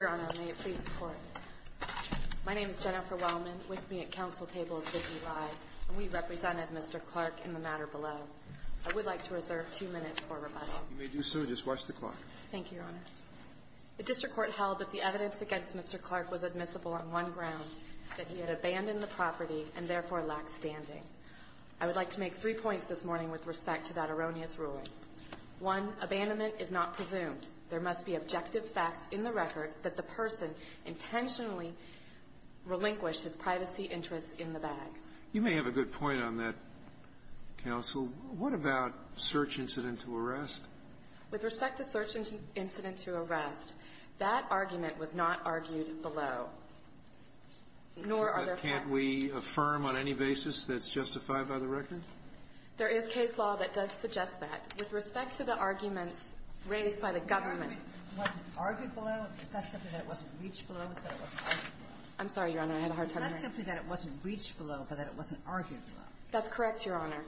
Your Honor, may it please the Court. My name is Jennifer Wellman. With me at counsel table is Vicki Rye, and we represented Mr. Clark in the matter below. I would like to reserve two minutes for rebuttal. You may do so. Just watch the clock. Thank you, Your Honor. The district court held that the evidence against Mr. Clark was admissible on one ground, that he had abandoned the property and therefore lacked standing. I would like to make three points this morning with respect to that erroneous ruling. One, abandonment is not presumed. There must be objective facts in the record that the person intentionally relinquished his privacy interests in the bag. You may have a good point on that, counsel. What about search incident to arrest? With respect to search incident to arrest, that argument was not argued below. Nor are there facts. Can't we affirm on any basis that it's justified by the record? There is case law that does suggest that. With respect to the arguments raised by the government, it wasn't argued below. Is that simply that it wasn't reached below, but that it wasn't argued below? I'm sorry, Your Honor. I had a hard time hearing it. It's not simply that it wasn't reached below, but that it wasn't argued below. That's correct, Your Honor.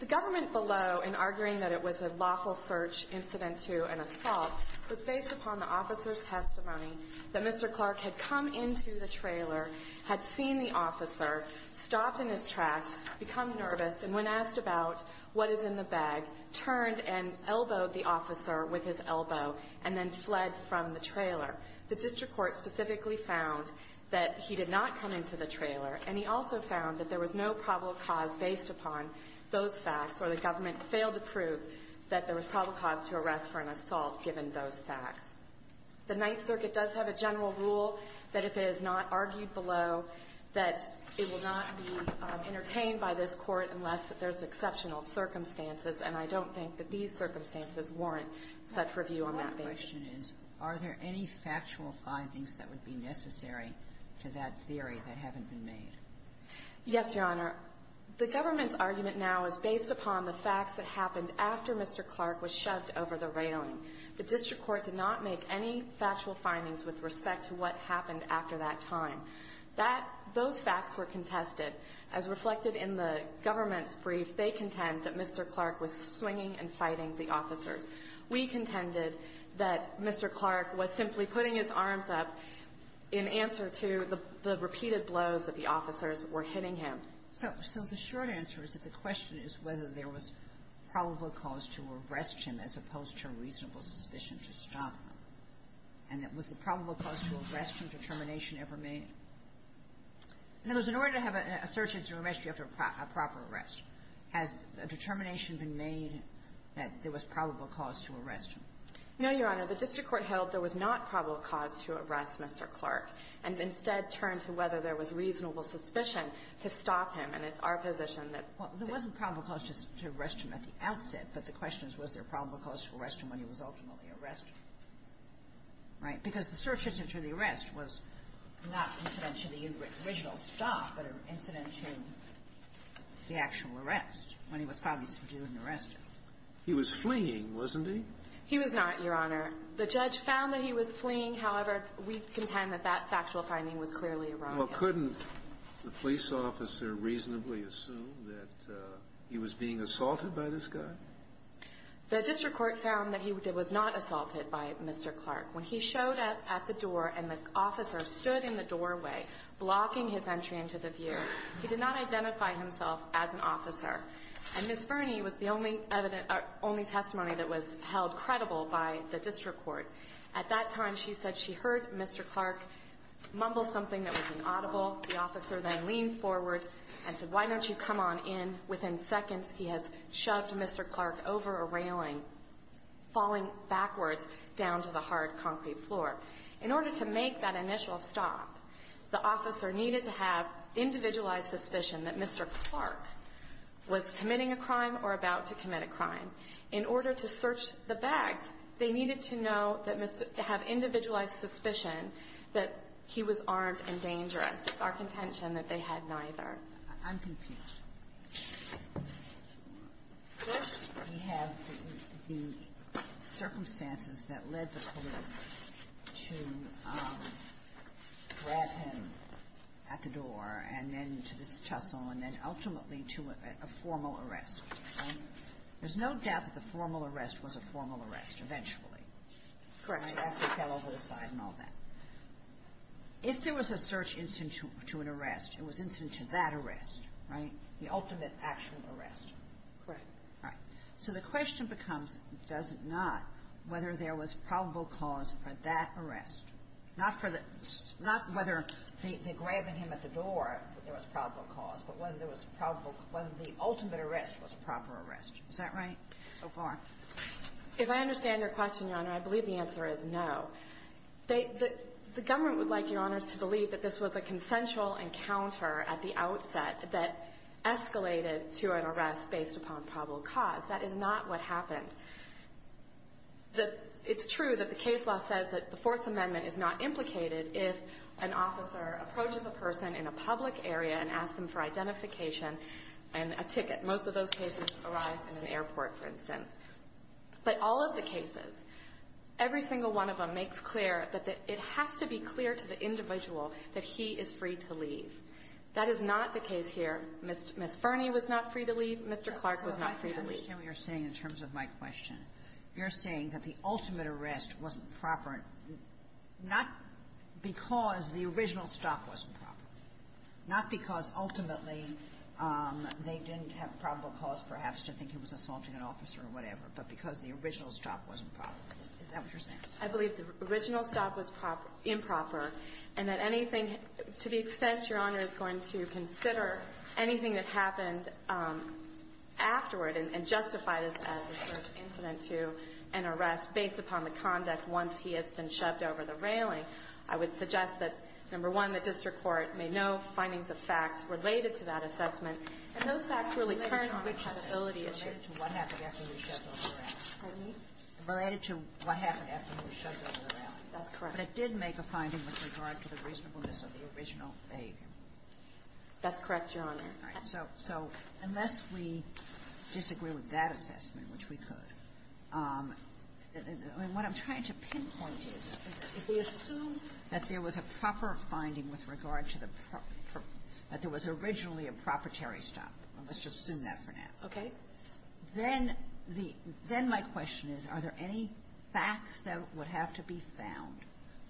The government below, in arguing that it was a lawful search incident to an assault, was based upon the officer's testimony that Mr. Clark had come into the trailer, had seen the officer, stopped in his tracks, become nervous, and when asked about what is in the bag, turned and elbowed the officer with his elbow and then fled from the trailer. The district court specifically found that he did not come into the trailer. And he also found that there was no probable cause based upon those facts, or the government failed to prove that there was probable cause to arrest for an assault given those facts. The Ninth Circuit does have a general rule that if it is not argued below, that it will not be entertained by this Court unless there's exceptional circumstances, and I don't think that these circumstances warrant such review on that basis. The question is, are there any factual findings that would be necessary to that theory that haven't been made? Yes, Your Honor. The government's argument now is based upon the facts that happened after Mr. Clark was shoved over the railing. The district court did not make any factual findings with respect to what happened after that time. That those facts were contested. As reflected in the government's brief, they contend that Mr. Clark was swinging and fighting the officers. We contended that Mr. Clark was simply putting his arms up in answer to the repeated blows that the officers were hitting him. So the short answer is that the question is whether there was probable cause to arrest him as opposed to a reasonable suspicion to stop him. And was the probable cause to arrest him determination ever made? In other words, in order to have a search history after a proper arrest, has a determination been made that there was probable cause to arrest him? No, Your Honor. The district court held there was not probable cause to arrest Mr. Clark, and instead turned to whether there was reasonable suspicion to stop him. And it's our position that the question is whether there was probable cause to arrest him at the outset, but the question is was there probable cause to arrest him when he was ultimately arrested, right? Because the search history to the arrest was not incident to the original stop, but an incident to the actual arrest when he was found to be responsible for doing the arrest. He was fleeing, wasn't he? He was not, Your Honor. The judge found that he was fleeing. However, we contend that that factual finding was clearly erroneous. Well, couldn't the police officer reasonably assume that he was being assaulted by this guy? The district court found that he was not assaulted by Mr. Clark. When he showed up at the door and the officer stood in the doorway blocking his entry into the view, he did not identify himself as an officer. And Ms. Fernie was the only testimony that was held credible by the district court. At that time, she said she heard Mr. Clark mumble something that was inaudible. The officer then leaned forward and said, why don't you come on in? Within seconds, he has shoved Mr. Clark over a railing, falling backwards down to the hard concrete floor. In order to make that initial stop, the officer needed to have individualized suspicion that Mr. Clark was committing a crime or about to commit a crime. In order to search the bags, they needed to know that Mr. – have individualized suspicion that he was armed and dangerous. It's our contention that they had neither. I'm confused. To grab him at the door, and then to this tussle, and then ultimately to a formal arrest, right? There's no doubt that the formal arrest was a formal arrest, eventually. Correct. Right? After he fell over the side and all that. If there was a search instant to an arrest, it was instant to that arrest, right? The ultimate, actual arrest. Correct. All right. So the question becomes, does it not, whether there was probable cause for that arrest. Not for the – not whether the grabbing him at the door, there was probable cause, but whether there was probable – whether the ultimate arrest was a proper arrest. Is that right so far? If I understand your question, Your Honor, I believe the answer is no. They – the government would like, Your Honors, to believe that this was a consensual encounter at the outset that escalated to an arrest based upon probable cause. That is not what happened. The – it's true that the case law says that the Fourth Amendment is not implicated if an officer approaches a person in a public area and asks them for identification and a ticket. Most of those cases arise in an airport, for instance. But all of the cases, every single one of them makes clear that it has to be clear to the individual that he is free to leave. That is not the case here. Ms. Fernie was not free to leave. Mr. Clark was not free to leave. I understand what you're saying in terms of my question. You're saying that the ultimate arrest wasn't proper, not because the original stop wasn't proper, not because ultimately they didn't have probable cause, perhaps, to think he was assaulting an officer or whatever, but because the original stop wasn't proper. Is that what you're saying? I believe the original stop was improper, and that anything – to the extent Your Honor, I would suggest that, number one, the district court made no findings of facts related to that assessment, and those facts really turned the possibility of – Related to what happened after he was shoved over the railing. Pardon me? Related to what happened after he was shoved over the railing. That's correct. But it did make a finding with regard to the reasonableness of the original behavior. That's correct, Your Honor. All right. So unless we disagree with that assessment, which we could, what I'm trying to pinpoint is, if we assume that there was a proper finding with regard to the – that there was originally a proprietary stop, let's just assume that for now. Okay. Then the – then my question is, are there any facts that would have to be found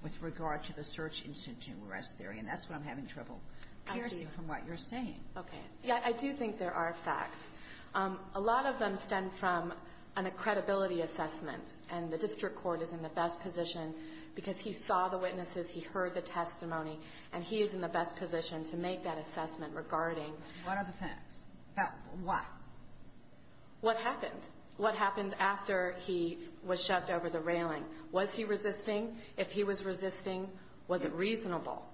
with regard to the search-instanting arrest theory? And that's what I'm having trouble piercing from what you're saying. Okay. Yeah, I do think there are facts. A lot of them stem from an accredibility assessment, and the district court is in the best position, because he saw the witnesses, he heard the testimony, and he is in the best position to make that assessment regarding – What are the facts? Why? What happened? What happened after he was shoved over the railing? Was he resisting? If he was resisting, was it reasonable?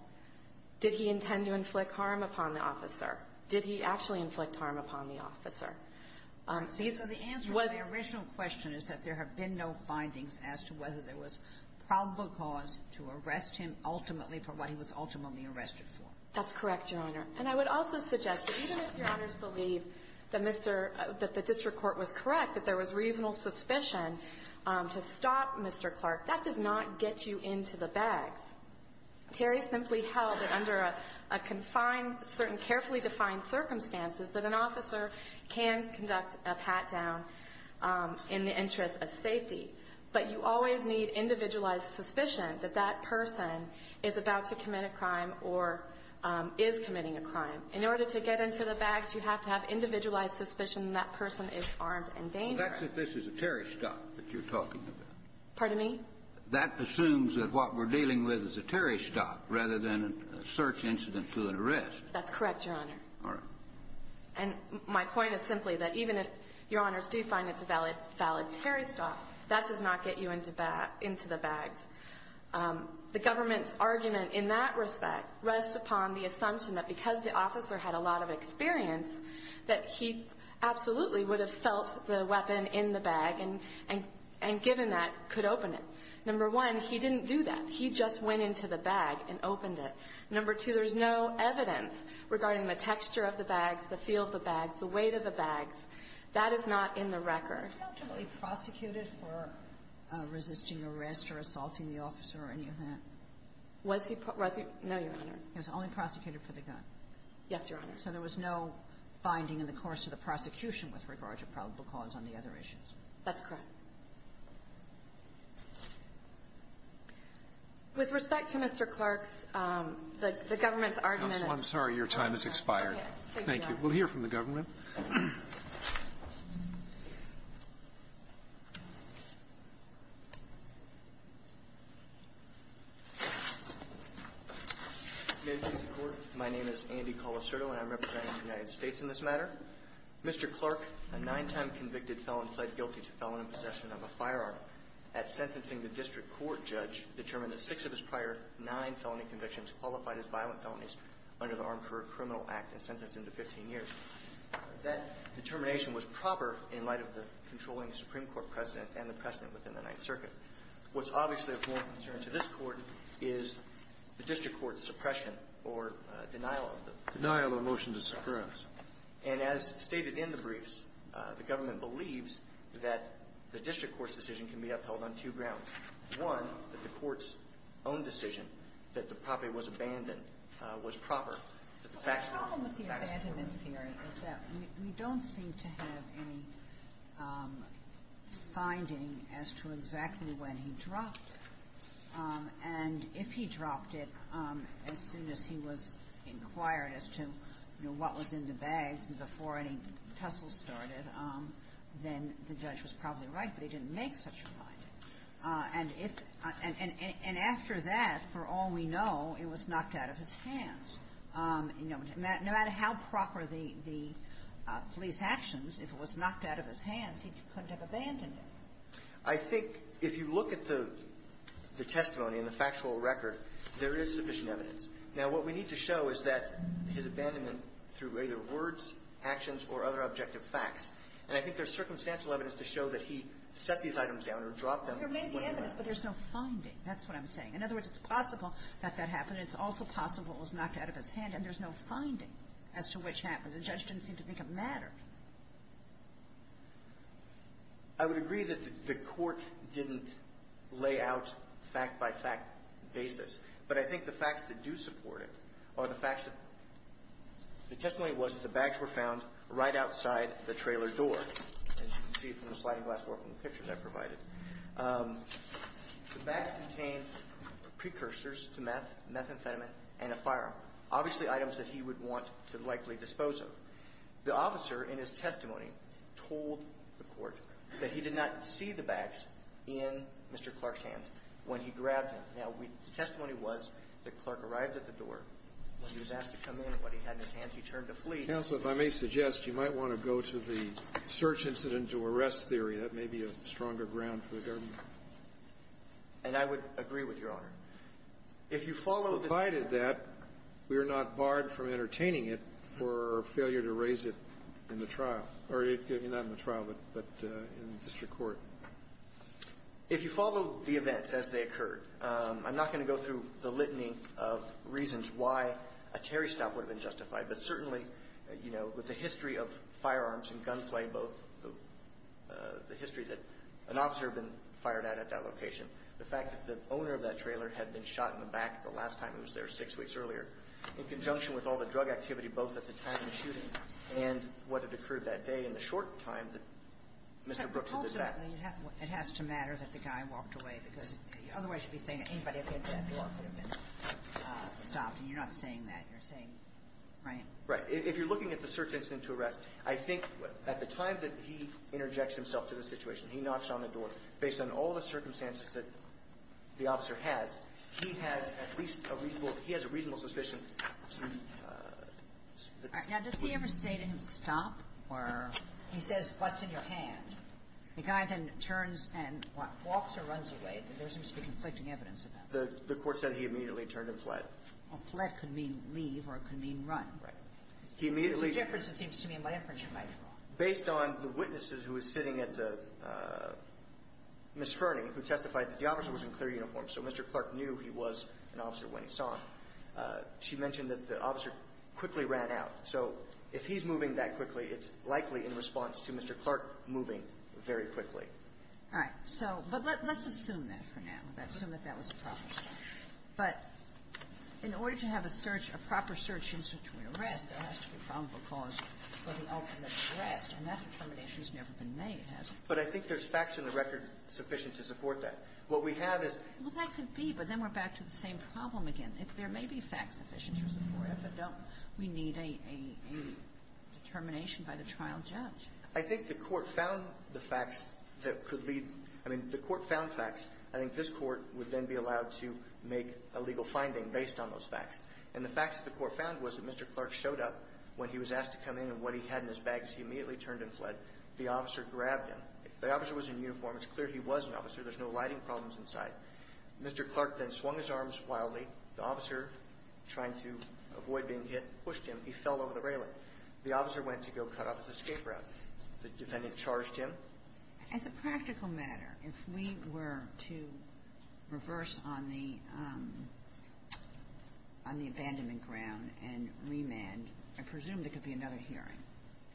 Did he intend to inflict harm upon the officer? Did he actually inflict harm upon the officer? These were the – So the answer to my original question is that there have been no findings as to whether there was probable cause to arrest him ultimately for what he was ultimately arrested for. That's correct, Your Honor. And I would also suggest that even if Your Honors believe that Mr. – that the district court was correct, that there was reasonable suspicion to stop Mr. Clark, that does not get you into the bags. Terry simply held that under a confined – certain carefully defined circumstances that an officer can conduct a pat-down in the interest of safety, but you always need individualized suspicion that that person is about to commit a crime or is committing a crime. In order to get into the bags, you have to have individualized suspicion that that person is armed and dangerous. Well, that's if this is a Terry stop that you're talking about. Pardon me? That assumes that what we're dealing with is a Terry stop rather than a search incident through an arrest. That's correct, Your Honor. All right. And my point is simply that even if Your Honors do find it's a valid Terry stop, that does not get you into the bags. The government's argument in that respect rests upon the assumption that because the officer had a lot of experience, that he absolutely would have felt the weapon in the bag and, given that, could open it. Number one, he didn't do that. He just went into the bag and opened it. Number two, there's no evidence regarding the texture of the bags, the feel of the bags, the weight of the bags. That is not in the record. Was he presumptively prosecuted for resisting arrest or assaulting the officer or any of that? Was he – no, Your Honor. He was only prosecuted for the gun. Yes, Your Honor. So there was no finding in the course of the prosecution with regard to probable cause on the other issues. That's correct. With respect to Mr. Clark's – the government's argument is – Counsel, I'm sorry, your time has expired. Thank you. We'll hear from the government. May it please the Court. My name is Andy Colasurdo and I'm representing the United States in this matter. Mr. Clark, a nine-time convicted felon, pled guilty to felon in possession of a firearm at sentencing the district court judge, determined that six of his prior nine felony convictions qualified as violent felonies under the Armed Career Criminal Act and sentenced him to 15 years. That determination was proper in light of the controlling Supreme Court precedent and the precedent within the Ninth Circuit. What's obviously of more concern to this Court is the district court's suppression or denial of the – Denial of a motion to suppress. And as stated in the briefs, the government believes that the district court's decision can be upheld on two grounds. One, that the court's own decision that the property was abandoned was proper. The problem with the abandonment theory is that we don't seem to have any finding as to exactly when he dropped it. And if he dropped it as soon as he was inquired as to, you know, what was in the bags before any tussle started, then the judge was probably right that he didn't make such a finding. And if – and after that, for all we know, it was knocked out of his hands. You know, no matter how proper the police actions, if it was knocked out of his hands, he couldn't have abandoned it. I think if you look at the testimony and the factual record, there is sufficient evidence. Now, what we need to show is that his abandonment through either words, actions, or other objective facts, and I think there's circumstantial evidence to show that he set these items down or dropped them when he went. There may be evidence, but there's no finding. That's what I'm saying. In other words, it's possible that that happened. It's also possible it was knocked out of his hand. The judge didn't seem to think it mattered. I would agree that the court didn't lay out fact-by-fact basis, but I think the facts that do support it are the facts that – the testimony was that the bags were found right outside the trailer door, as you can see from the sliding glass door from the picture that I provided. The bags contained precursors to meth, methamphetamine, and a firearm, obviously items that he would want to likely dispose of. The officer, in his testimony, told the court that he did not see the bags in Mr. Clark's hands when he grabbed him. Now, the testimony was that Clark arrived at the door. When he was asked to come in, what he had in his hands, he turned to flee. Counsel, if I may suggest, you might want to go to the search-incident-to-arrest theory. That may be a stronger ground for the government. And I would agree with Your Honor. If you follow the – If you follow the events as they occurred, I'm not going to go through the litany of reasons why a Terry stop would have been justified, but certainly, you know, with the history of firearms and gunplay, both the history that an officer had been fired at at that location, the fact that the owner of that trailer had been shot in conjunction with all the drug activity, both at the time of the shooting and what had occurred that day in the short time that Mr. Brooks was at the back. But ultimately, it has to matter that the guy walked away, because otherwise you'd be saying that anybody at the event would have been stopped. And you're not saying that. You're saying, right? Right. If you're looking at the search-incident-to-arrest, I think at the time that he interjects himself to the situation, he knocks on the door. Based on all the circumstances that the officer has, he has at least a reasonable suspicion to split. All right. Now, does he ever say to him, stop? Or he says, what's in your hand? The guy then turns and walks or runs away, but there seems to be conflicting evidence of that. The court said he immediately turned and fled. Well, fled could mean leave, or it could mean run. Right. He immediately – There's a difference, it seems to me, in my inference you might draw. Based on the witnesses who were sitting at the – Ms. Ferney, who testified that the officer was in clear uniform, so Mr. Clark knew he was an officer when he saw him. She mentioned that the officer quickly ran out. So if he's moving that quickly, it's likely in response to Mr. Clark moving very quickly. All right. So – but let's assume that for now. Let's assume that that was a problem. But in order to have a search – a proper search-incident-to-arrest, there has to be a probable cause for the ultimate arrest. And that determination has never been made, has it? But I think there's facts in the record sufficient to support that. What we have is – Well, that could be, but then we're back to the same problem again. There may be facts sufficient to support it, but don't we need a determination by the trial judge? I think the Court found the facts that could lead – I mean, the Court found facts. I think this Court would then be allowed to make a legal finding based on those facts. And the facts that the Court found was that Mr. Clark showed up when he was asked to come in and what he had in his bag, so he immediately turned and fled. The officer grabbed him. The officer was in uniform. It's clear he was an officer. There's no lighting problems inside. Mr. Clark then swung his arms wildly. The officer, trying to avoid being hit, pushed him. He fell over the railing. The officer went to go cut off his escape route. The defendant charged him. As a practical matter, if we were to reverse on the – on the abandonment ground and remand, I presume there could be another hearing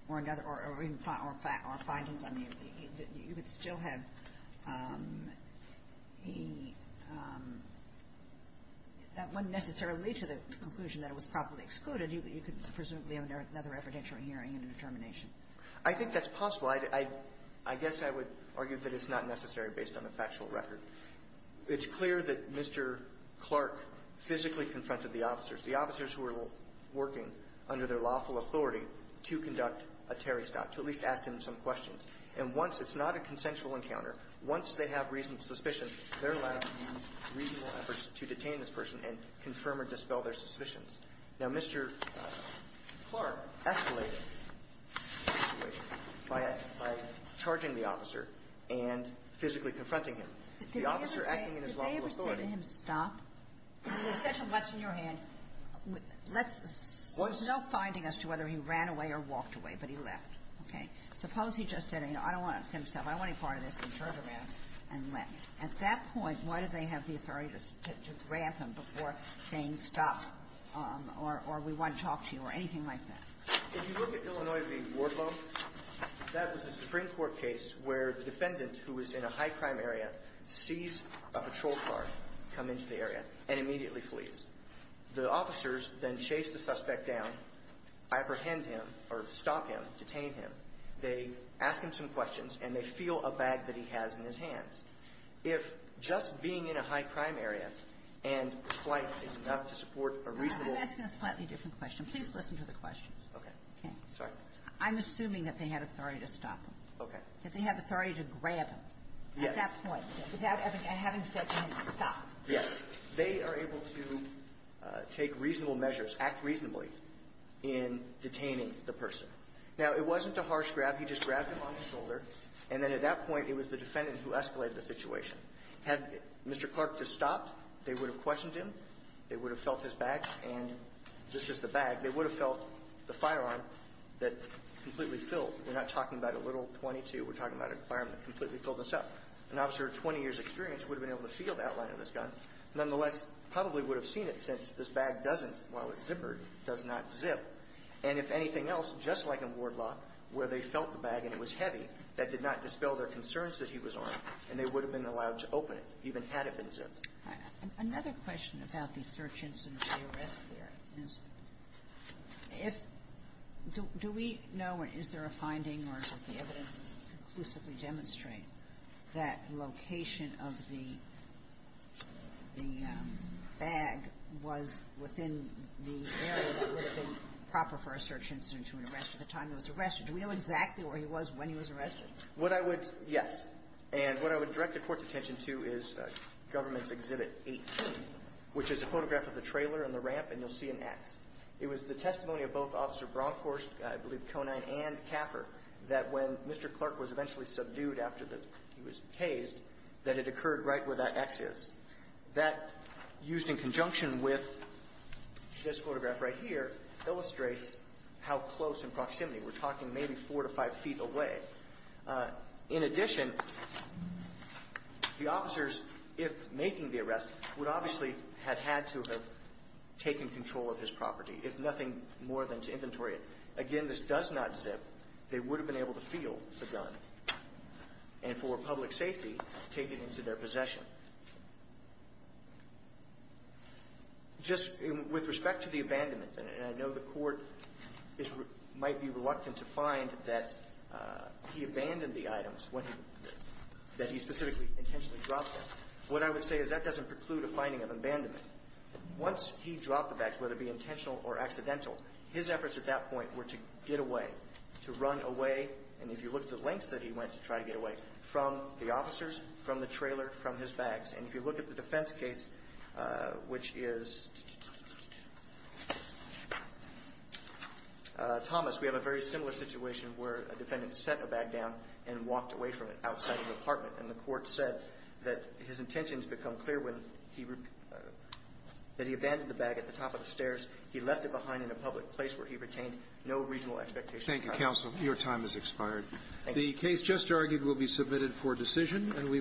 or another – or even findings. I mean, you could still have a – that wouldn't necessarily lead to the conclusion that it was probably excluded. You could presumably have another evidentiary hearing and a determination. I think that's possible. I guess I would argue that it's not necessary based on the factual record. It's clear that Mr. Clark physically confronted the officers, the officers who were under their lawful authority to conduct a Terry stop, to at least ask him some questions. And once – it's not a consensual encounter. Once they have reasonable suspicions, they're allowed to use reasonable efforts to detain this person and confirm or dispel their suspicions. Now, Mr. Clark escalated the situation by charging the officer and physically confronting him. The officer acting in his lawful authority – Let's – there's no finding as to whether he ran away or walked away, but he left. Okay? Suppose he just said, you know, I don't want to see himself. I don't want any part of this. He turned around and left. At that point, why did they have the authority to grant him before saying stop or we want to talk to you or anything like that? If you look at Illinois v. Wardlow, that was a Supreme Court case where the defendant who was in a high-crime area sees a patrol car come into the area and immediately flees. The officers then chase the suspect down, apprehend him or stop him, detain him. They ask him some questions, and they feel a bag that he has in his hands. If just being in a high-crime area and splite is enough to support a reasonable – I'm asking a slightly different question. Please listen to the questions. Okay. Okay. Sorry. I'm assuming that they had authority to stop him. Okay. That they have authority to grab him. Yes. At that point. Without having said stop. Yes. They are able to take reasonable measures, act reasonably in detaining the person. Now, it wasn't a harsh grab. He just grabbed him on the shoulder. And then at that point, it was the defendant who escalated the situation. Had Mr. Clark just stopped, they would have questioned him. They would have felt his bag. And this is the bag. They would have felt the firearm that completely filled. We're not talking about a little .22. We're talking about a firearm that completely filled this up. An officer of 20 years' experience would have been able to feel the outline of this gun. Nonetheless, probably would have seen it since this bag doesn't, while it's zippered, does not zip. And if anything else, just like in Wardlock, where they felt the bag and it was heavy, that did not dispel their concerns that he was armed, and they would have been allowed to open it, even had it been zipped. All right. Another question about the search instance, the arrest there, is if – do we know at this point, is there a finding, or does the evidence conclusively demonstrate that location of the bag was within the area that would have been proper for a search instance for an arrest at the time he was arrested? Do we know exactly where he was when he was arrested? What I would – yes. And what I would direct the Court's attention to is Government's Exhibit 18, which is a photograph of the trailer and the ramp, and you'll see an X. It was the testimony of both Officer Bronkhorst, I believe Conine, and Caffer, that when Mr. Clark was eventually subdued after the – he was tased, that it occurred right where that X is. That, used in conjunction with this photograph right here, illustrates how close in proximity. We're talking maybe four to five feet away. In addition, the officers, if making the arrest, would obviously have had to have taken control of his property, if nothing more than to inventory it. Again, this does not zip. They would have been able to feel the gun and, for public safety, take it into their possession. Just with respect to the abandonment, and I know the Court is – might be reluctant to find that he abandoned the items when he – that he specifically intentionally dropped them. What I would say is that doesn't preclude a finding of abandonment. Once he dropped the bags, whether it be intentional or accidental, his efforts at that point were to get away, to run away – and if you look at the lengths that he went to try to get away – from the officers, from the trailer, from his bags. And if you look at the defense case, which is Thomas, we have a very similar situation where a defendant set a bag down and walked away from it outside the that he abandoned the bag at the top of the stairs. He left it behind in a public place where he retained no regional expectation of crime. Thank you, counsel. Your time has expired. Thank you. The case just argued will be submitted for decision, and we will